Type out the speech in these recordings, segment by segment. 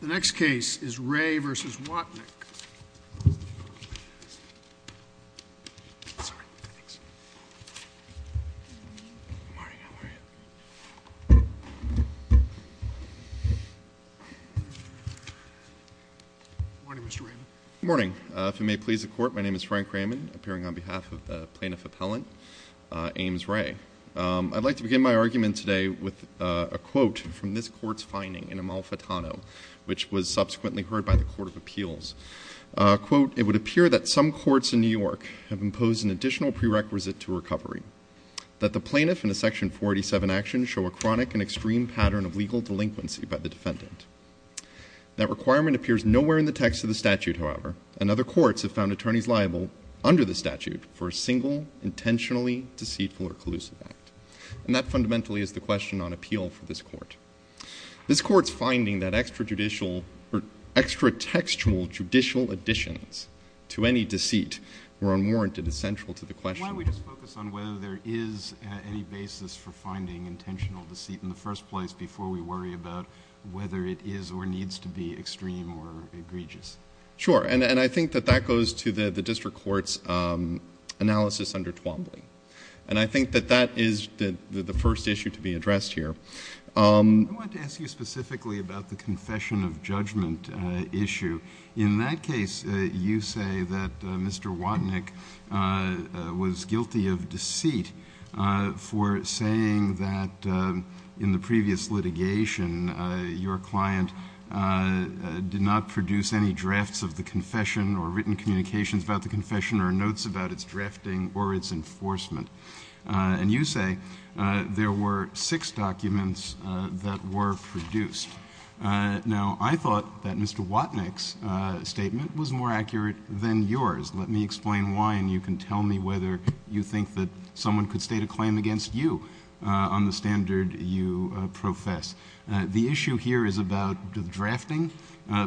The next case is Wray v. Watnick. Good morning, Mr. Raymond. Good morning. If it may please the Court, my name is Frank Raymond, appearing on behalf of the Plaintiff Appellant Ames Wray. I'd like to begin my argument today with a quote from this Court's finding in Amalfitano, which was subsequently heard by the Court of Appeals. Quote, it would appear that some courts in New York have imposed an additional prerequisite to recovery, that the plaintiff in a Section 487 action show a chronic and extreme pattern of legal delinquency by the defendant. That requirement appears nowhere in the text of the statute, however, and other courts have found attorneys liable under the statute for a single intentionally deceitful or collusive act. And that fundamentally is the question on appeal for this Court. This Court's finding that extrajudicial or extra-textual judicial additions to any deceit were unwarranted is central to the question. Why don't we just focus on whether there is any basis for finding intentional deceit in the first place before we worry about whether it is or needs to be extreme or egregious? Sure. And I think that that goes to the district court's analysis under Twombly. And I think that that is the first issue to be addressed here. I want to ask you specifically about the confession of judgment issue. In that case, you say that Mr. Watnick was guilty of deceit for saying that in the previous litigation, your client did not produce any drafts of the confession or written communications about the confession or notes about its drafting or its enforcement. And you say there were six documents that were produced. Now, I thought that Mr. Watnick's statement was more accurate than yours. Let me explain why, and you can tell me whether you think that someone could state a claim against you on the standard you profess. The issue here is about the drafting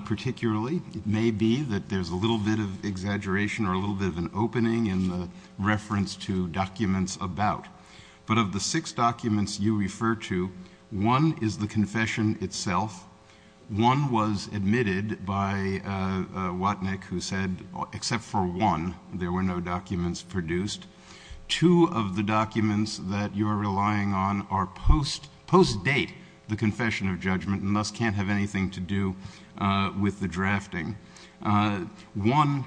particularly. It may be that there's a little bit of exaggeration or a little bit of an opening in the reference to documents about. But of the six documents you refer to, one is the confession itself. One was admitted by Watnick who said, except for one, there were no documents produced. Two of the documents that you are relying on are post-date, the confession of judgment, and thus can't have anything to do with the drafting. One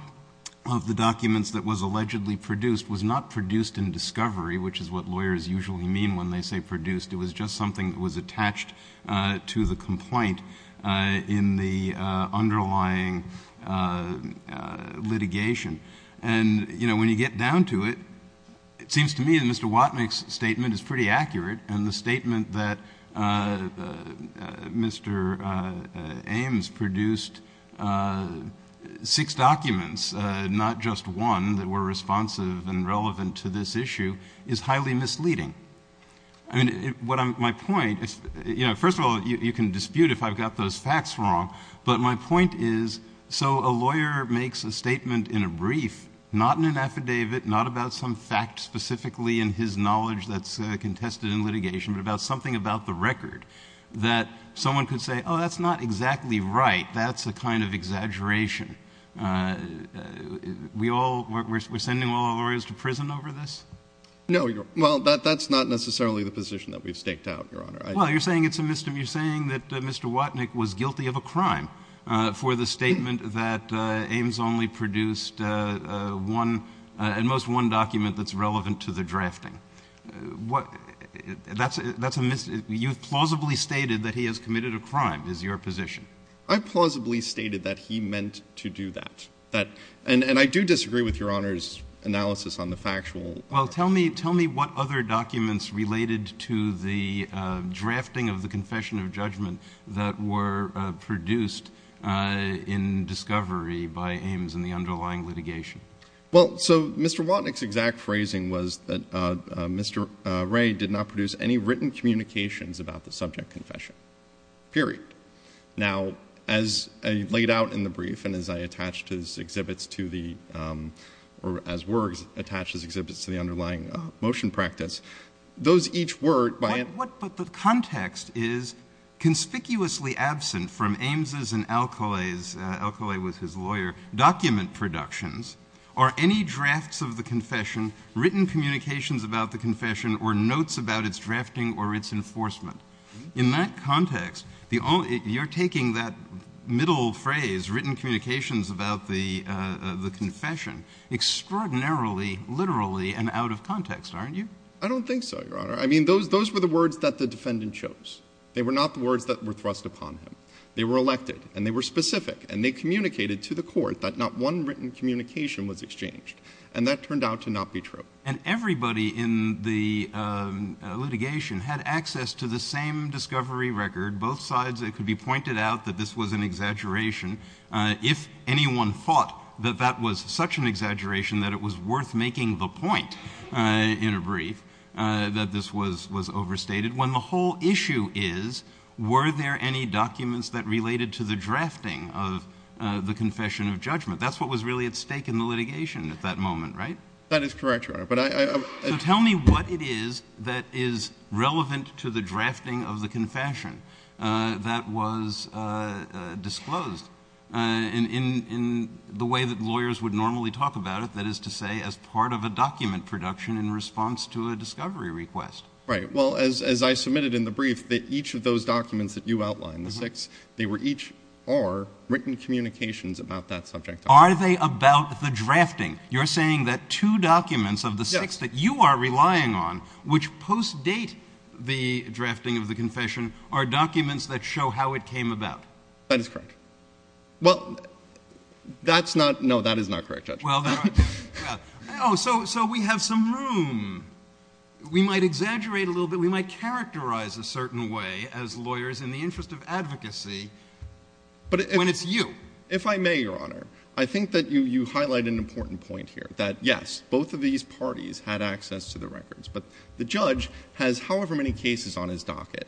of the documents that was allegedly produced was not produced in discovery, which is what lawyers usually mean when they say produced. It was just something that was attached to the complaint in the underlying litigation. And, you know, when you get down to it, it seems to me that Mr. Watnick's statement is pretty accurate. And the statement that Mr. Ames produced six documents, not just one, that were responsive and relevant to this issue is highly misleading. I mean, my point is, you know, first of all, you can dispute if I've got those facts wrong. But my point is, so a lawyer makes a statement in a brief, not in an affidavit, not about some fact specifically in his knowledge that's contested in litigation, but about something about the record that someone could say, oh, that's not exactly right. That's a kind of exaggeration. We're sending all our lawyers to prison over this? No. Well, that's not necessarily the position that we've staked out, Your Honor. Well, you're saying that Mr. Watnick was guilty of a crime for the statement that Ames only produced one and most one document that's relevant to the drafting. You've plausibly stated that he has committed a crime is your position. I've plausibly stated that he meant to do that. And I do disagree with Your Honor's analysis on the factual. Well, tell me what other documents related to the drafting of the confession of judgment that were produced in discovery by Ames in the underlying litigation. Well, so Mr. Watnick's exact phrasing was that Mr. Ray did not produce any written communications about the subject confession, period. Now, as I laid out in the brief and as I attached his exhibits to the or as were attached his exhibits to the underlying motion practice, those each were, by and large, conspicuously absent from Ames' and Alcoa's, Alcoa was his lawyer, document productions, or any drafts of the confession, written communications about the confession, or notes about its drafting or its enforcement. In that context, you're taking that middle phrase, written communications about the confession, extraordinarily literally and out of context, aren't you? I don't think so, Your Honor. I mean, those were the words that the defendant chose. They were not the words that were thrust upon him. They were elected, and they were specific, and they communicated to the court that not one written communication was exchanged. And that turned out to not be true. And everybody in the litigation had access to the same discovery record. Both sides, it could be pointed out that this was an exaggeration. If anyone thought that that was such an exaggeration that it was worth making the point in a brief, that this was overstated. When the whole issue is, were there any documents that related to the drafting of the confession of judgment? That's what was really at stake in the litigation at that moment, right? That is correct, Your Honor. So tell me what it is that is relevant to the drafting of the confession that was disclosed in the way that lawyers would normally talk about it. That is to say, as part of a document production in response to a discovery request. Right. Well, as I submitted in the brief, each of those documents that you outlined, the six, they were each or written communications about that subject. Are they about the drafting? You're saying that two documents of the six that you are relying on, which post-date the drafting of the confession, are documents that show how it came about. That is correct. Well, that's not, no, that is not correct, Judge. Oh, so we have some room. We might exaggerate a little bit. We might characterize a certain way as lawyers in the interest of advocacy when it's you. If I may, Your Honor, I think that you highlight an important point here, that, yes, both of these parties had access to the records, but the judge has however many cases on his docket.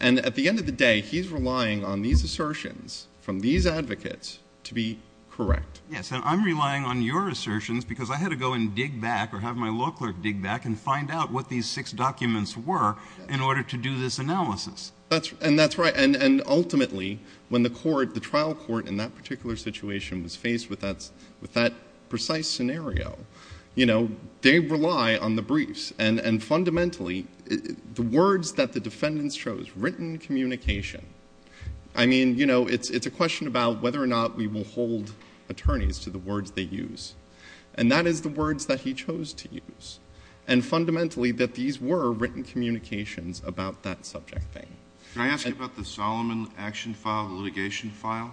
And at the end of the day, he's relying on these assertions from these advocates to be correct. Yes, and I'm relying on your assertions because I had to go and dig back or have my law clerk dig back and find out what these six documents were in order to do this analysis. And that's right. And ultimately, when the court, the trial court in that particular situation was faced with that precise scenario, you know, they rely on the briefs. And fundamentally, the words that the defendants chose, written communication, I mean, you know, it's a question about whether or not we will hold attorneys to the words they use. And that is the words that he chose to use. And fundamentally, that these were written communications about that subject thing. Can I ask you about the Solomon action file, the litigation file?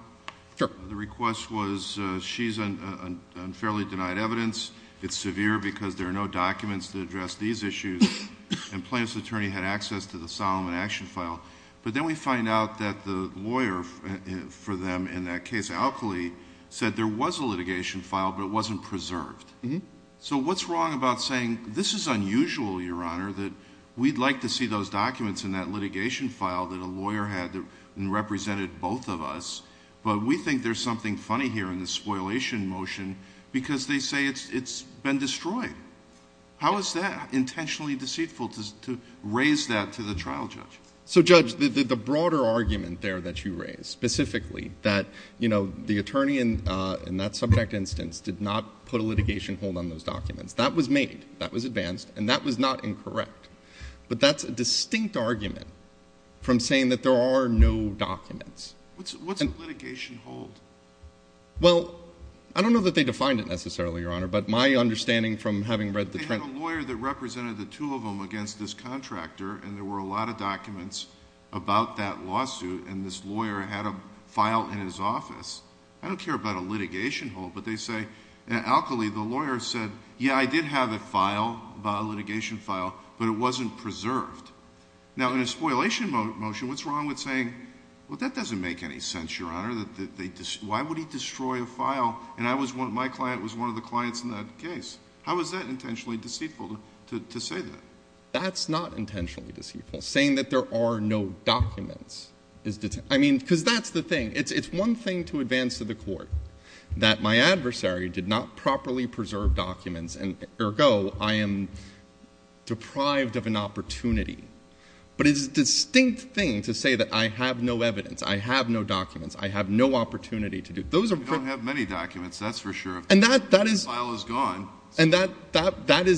Sure. The request was she's unfairly denied evidence. It's severe because there are no documents to address these issues. And plaintiff's attorney had access to the Solomon action file. But then we find out that the lawyer for them in that case, Alkali, said there was a litigation file, but it wasn't preserved. So what's wrong about saying this is unusual, Your Honor, that we'd like to see those documents in that litigation file that a lawyer had that represented both of us, but we think there's something funny here in the spoilation motion because they say it's been destroyed. How is that intentionally deceitful to raise that to the trial judge? So, Judge, the broader argument there that you raise, specifically that, you know, the attorney in that subject instance did not put a litigation hold on those documents. That was made. That was advanced. And that was not incorrect. But that's a distinct argument from saying that there are no documents. What's a litigation hold? Well, I don't know that they defined it necessarily, Your Honor, but my understanding from having read the trial. I had a lawyer that represented the two of them against this contractor, and there were a lot of documents about that lawsuit. And this lawyer had a file in his office. I don't care about a litigation hold. But they say, Alkali, the lawyer said, yeah, I did have a file, a litigation file, but it wasn't preserved. Now, in a spoilation motion, what's wrong with saying, well, that doesn't make any sense, Your Honor. Why would he destroy a file? And my client was one of the clients in that case. How is that intentionally deceitful to say that? That's not intentionally deceitful, saying that there are no documents. I mean, because that's the thing. It's one thing to advance to the court that my adversary did not properly preserve documents, and ergo, I am deprived of an opportunity. But it's a distinct thing to say that I have no evidence, I have no documents, I have no opportunity to do it. You don't have many documents, that's for sure. And that is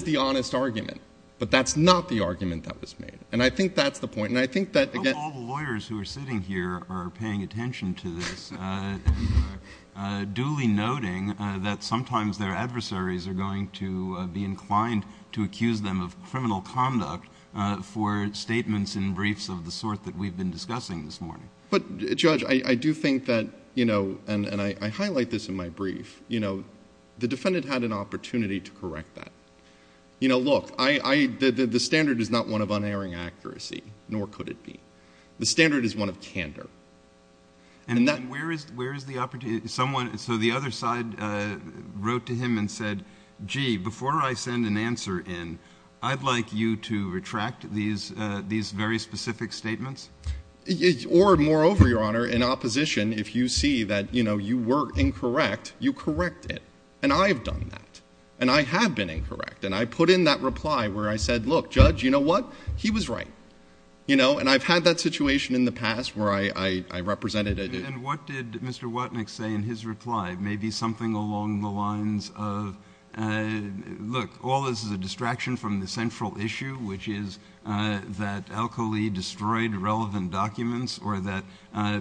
the honest argument. But that's not the argument that was made. And I think that's the point. And I think that again — All the lawyers who are sitting here are paying attention to this, duly noting that sometimes their adversaries are going to be inclined to accuse them of criminal conduct for statements and briefs of the sort that we've been discussing this morning. But, Judge, I do think that, you know, and I highlight this in my brief, you know, the defendant had an opportunity to correct that. You know, look, the standard is not one of unerring accuracy, nor could it be. The standard is one of candor. And where is the opportunity? Someone — so the other side wrote to him and said, gee, before I send an answer in, I'd like you to retract these very specific statements? Or, moreover, Your Honor, in opposition, if you see that, you know, you were incorrect, you correct it. And I have done that. And I have been incorrect. And I put in that reply where I said, look, Judge, you know what? He was right. You know? And I've had that situation in the past where I represented a — And what did Mr. Watnick say in his reply? Maybe something along the lines of, look, all this is a distraction from the central issue, which is that Al-Khalili destroyed relevant documents or that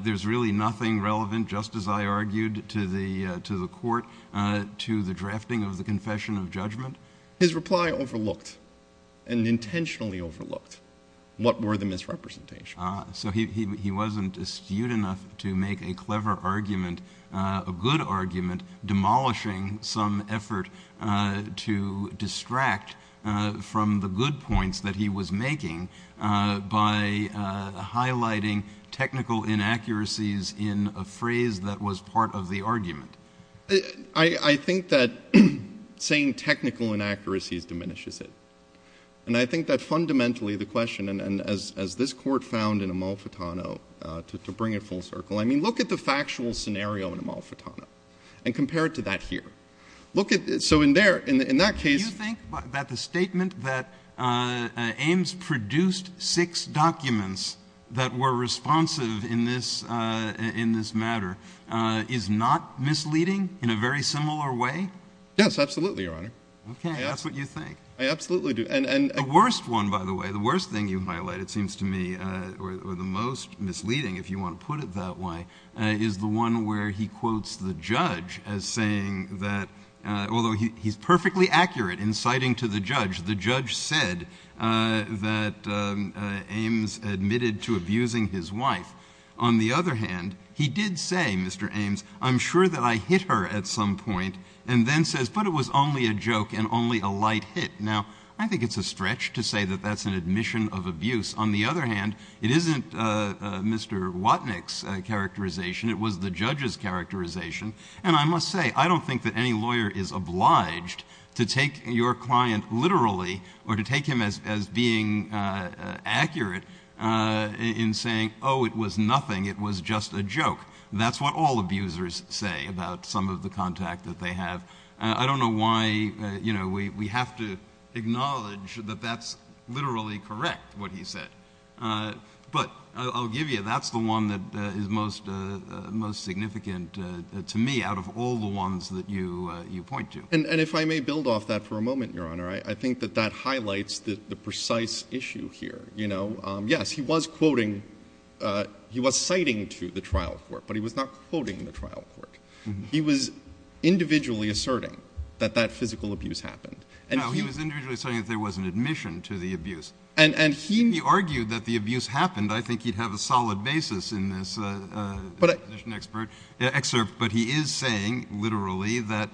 there's really nothing relevant, just as I argued to the court, to the drafting of the confession of judgment. His reply overlooked and intentionally overlooked what were the misrepresentations. So he wasn't astute enough to make a clever argument, a good argument, demolishing some effort to distract from the good points that he was making by highlighting technical inaccuracies in a phrase that was part of the argument. I think that saying technical inaccuracies diminishes it. And I think that fundamentally the question — and as this Court found in Amalfitano, to bring it full circle, I mean, look at the factual scenario in Amalfitano and compare it to that here. Look at — so in that case — Do you think that the statement that Ames produced six documents that were responsive in this matter is not misleading in a very similar way? Yes, absolutely, Your Honor. Okay. That's what you think. I absolutely do. And the worst one, by the way, the worst thing you've highlighted, it seems to me, or the most misleading, if you want to put it that way, is the one where he quotes the judge as saying that — although he's perfectly accurate in citing to the judge, the judge said that Ames admitted to abusing his wife. On the other hand, he did say, Mr. Ames, I'm sure that I hit her at some point, and then says, but it was only a joke and only a light hit. Now, I think it's a stretch to say that that's an admission of abuse. On the other hand, it isn't Mr. Watnick's characterization. It was the judge's characterization. And I must say, I don't think that any lawyer is obliged to take your client literally or to take him as being accurate in saying, oh, it was nothing, it was just a joke. That's what all abusers say about some of the contact that they have. I don't know why, you know, we have to acknowledge that that's literally correct, what he said. But I'll give you, that's the one that is most significant to me out of all the ones that you point to. And if I may build off that for a moment, Your Honor, I think that that highlights the precise issue here. You know, yes, he was quoting — he was citing to the trial court, but he was not quoting the trial court. He was individually asserting that that physical abuse happened. And he — No, he was individually saying that there was an admission to the abuse. And he — If he argued that the abuse happened, I think he'd have a solid basis in this expert excerpt. But he is saying, literally, that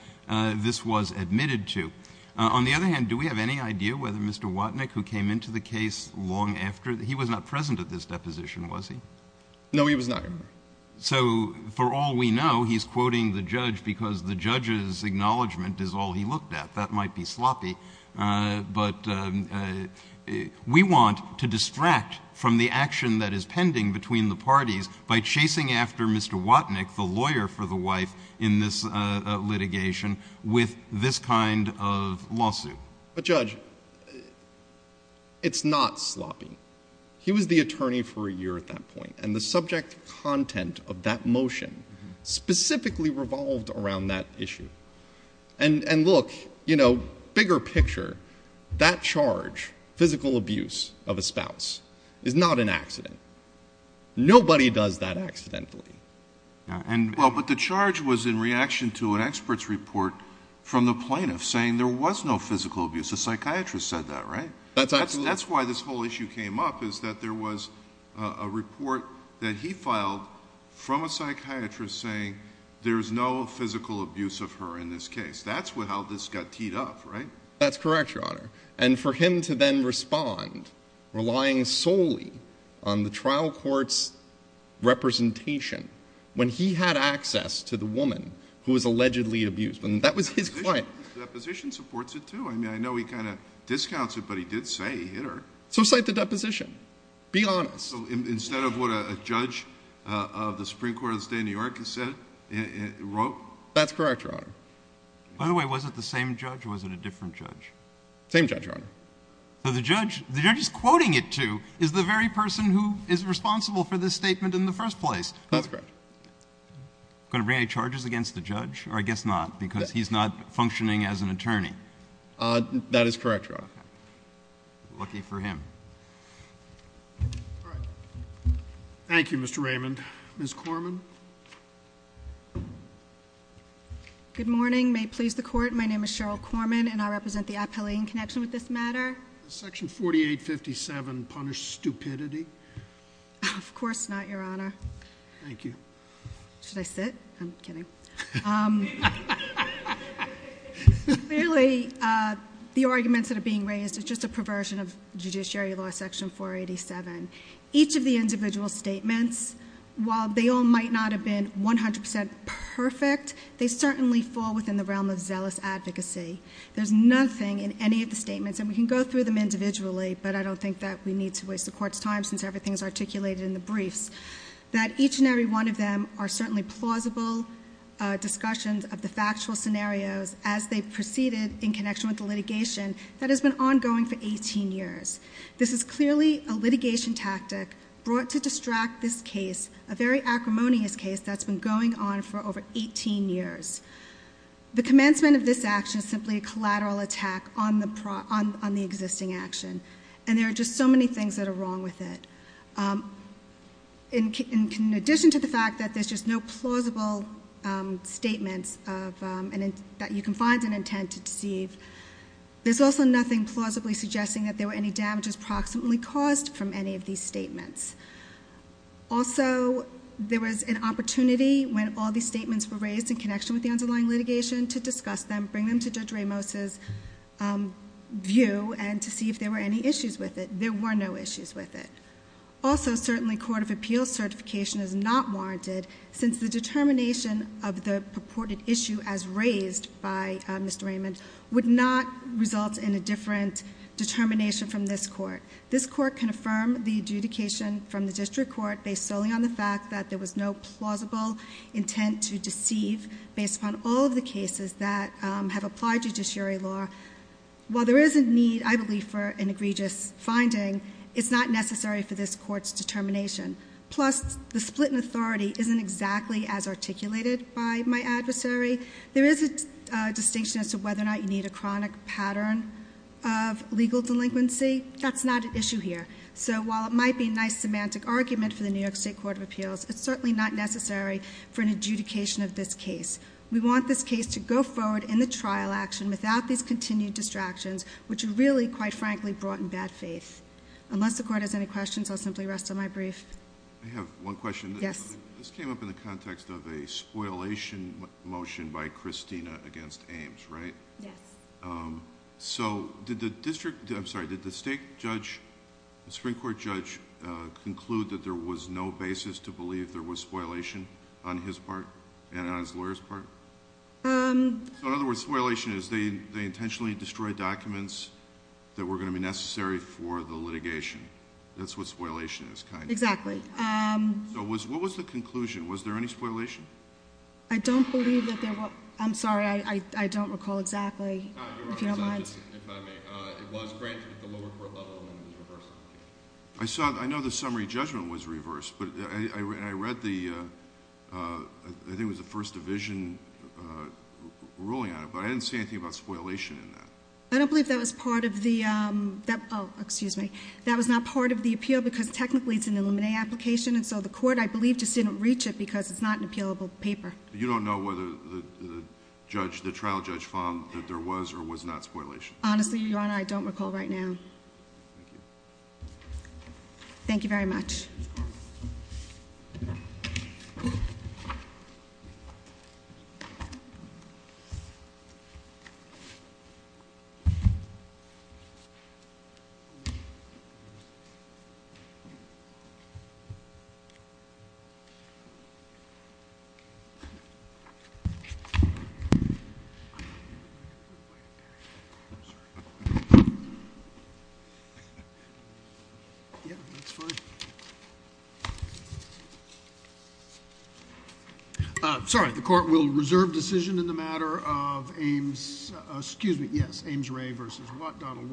this was admitted to. On the other hand, do we have any idea whether Mr. Watnick, who came into the case long after — he was not present at this deposition, was he? No, he was not, Your Honor. So for all we know, he's quoting the judge because the judge's acknowledgment is all he looked at. That might be sloppy. But we want to distract from the action that is pending between the parties by chasing after Mr. Watnick, the lawyer for the wife in this litigation, with this kind of lawsuit. But, Judge, it's not sloppy. He was the attorney for a year at that point. And the subject content of that motion specifically revolved around that issue. And, look, you know, bigger picture, that charge, physical abuse of a spouse, is not an accident. Nobody does that accidentally. Well, but the charge was in reaction to an expert's report from the plaintiff saying there was no physical abuse. The psychiatrist said that, right? That's absolutely —— from a psychiatrist saying there's no physical abuse of her in this case. That's how this got teed up, right? That's correct, Your Honor. And for him to then respond, relying solely on the trial court's representation, when he had access to the woman who was allegedly abused. And that was his client. His deposition supports it, too. I mean, I know he kind of discounts it, but he did say he hit her. So cite the deposition. Be honest. So instead of what a judge of the Supreme Court of the State of New York has said, wrote? That's correct, Your Honor. By the way, was it the same judge or was it a different judge? Same judge, Your Honor. So the judge — the judge he's quoting it to is the very person who is responsible for this statement in the first place. That's correct. Going to bring any charges against the judge? Or I guess not, because he's not functioning as an attorney. That is correct, Your Honor. Okay. Lucky for him. All right. Thank you, Mr. Raymond. Ms. Corman? Good morning. May it please the Court, my name is Cheryl Corman, and I represent the appellee in connection with this matter. Does Section 4857 punish stupidity? Of course not, Your Honor. Thank you. Should I sit? I'm kidding. Clearly, the arguments that are being raised is just a perversion of Judiciary Law Section 487. Each of the individual statements, while they all might not have been 100 percent perfect, they certainly fall within the realm of zealous advocacy. There's nothing in any of the statements, and we can go through them individually, but I don't think that we need to waste the Court's time since everything is articulated in the briefs, that each and every one of them are certainly plausible discussions of the factual scenarios as they proceeded in connection with the litigation that has been ongoing for 18 years. This is clearly a litigation tactic brought to distract this case, a very acrimonious case that's been going on for over 18 years. The commencement of this action is simply a collateral attack on the existing action, and there are just so many things that are wrong with it. In addition to the fact that there's just no plausible statements that you can find an intent to deceive, there's also nothing plausibly suggesting that there were any damages proximately caused from any of these statements. Also, there was an opportunity when all these statements were raised in connection with the underlying litigation to discuss them, bring them to Judge Ramos' view, and to see if there were any issues with it. There were no issues with it. Also, certainly, court of appeals certification is not warranted since the determination of the purported issue as raised by Mr. Raymond would not result in a different determination from this Court. This Court can affirm the adjudication from the district court based solely on the fact that there was no plausible intent to deceive based upon all of the cases that have applied judiciary law. While there is a need, I believe, for an egregious finding, it's not necessary for this Court's determination. Plus, the split in authority isn't exactly as articulated by my adversary. There is a distinction as to whether or not you need a chronic pattern of legal delinquency. That's not an issue here. So while it might be a nice semantic argument for the New York State Court of Appeals, it's certainly not necessary for an adjudication of this case. We want this case to go forward in the trial action without these continued distractions, which are really, quite frankly, brought in bad faith. Unless the court has any questions, I'll simply rest on my brief. I have one question. Yes. This came up in the context of a spoilation motion by Christina against Ames, right? Yes. So did the district, I'm sorry, did the state judge, the Supreme Court judge conclude that there was no basis to believe there was spoilation on his part and on his lawyer's part? So in other words, spoilation is they intentionally destroyed documents that were going to be necessary for the litigation. That's what spoilation is, kind of. Exactly. So what was the conclusion? Was there any spoilation? I don't believe that there was. I'm sorry, I don't recall exactly, if you don't mind. Your Honor, if I may, it was granted at the lower court level and it was reversed. I saw, I know the summary judgment was reversed, but I read the, I think it was the first division ruling on it, but I didn't see anything about spoilation in that. I don't believe that was part of the, excuse me, that was not part of the appeal because technically it's an Illuminae application. And so the court, I believe, just didn't reach it because it's not an appealable paper. You don't know whether the trial judge found that there was or was not spoilation? Honestly, Your Honor, I don't recall right now. Thank you very much. I'm sorry, the court will reserve decision in the matter of Ames, excuse me, yes, Ames Ray versus Donald Watnick.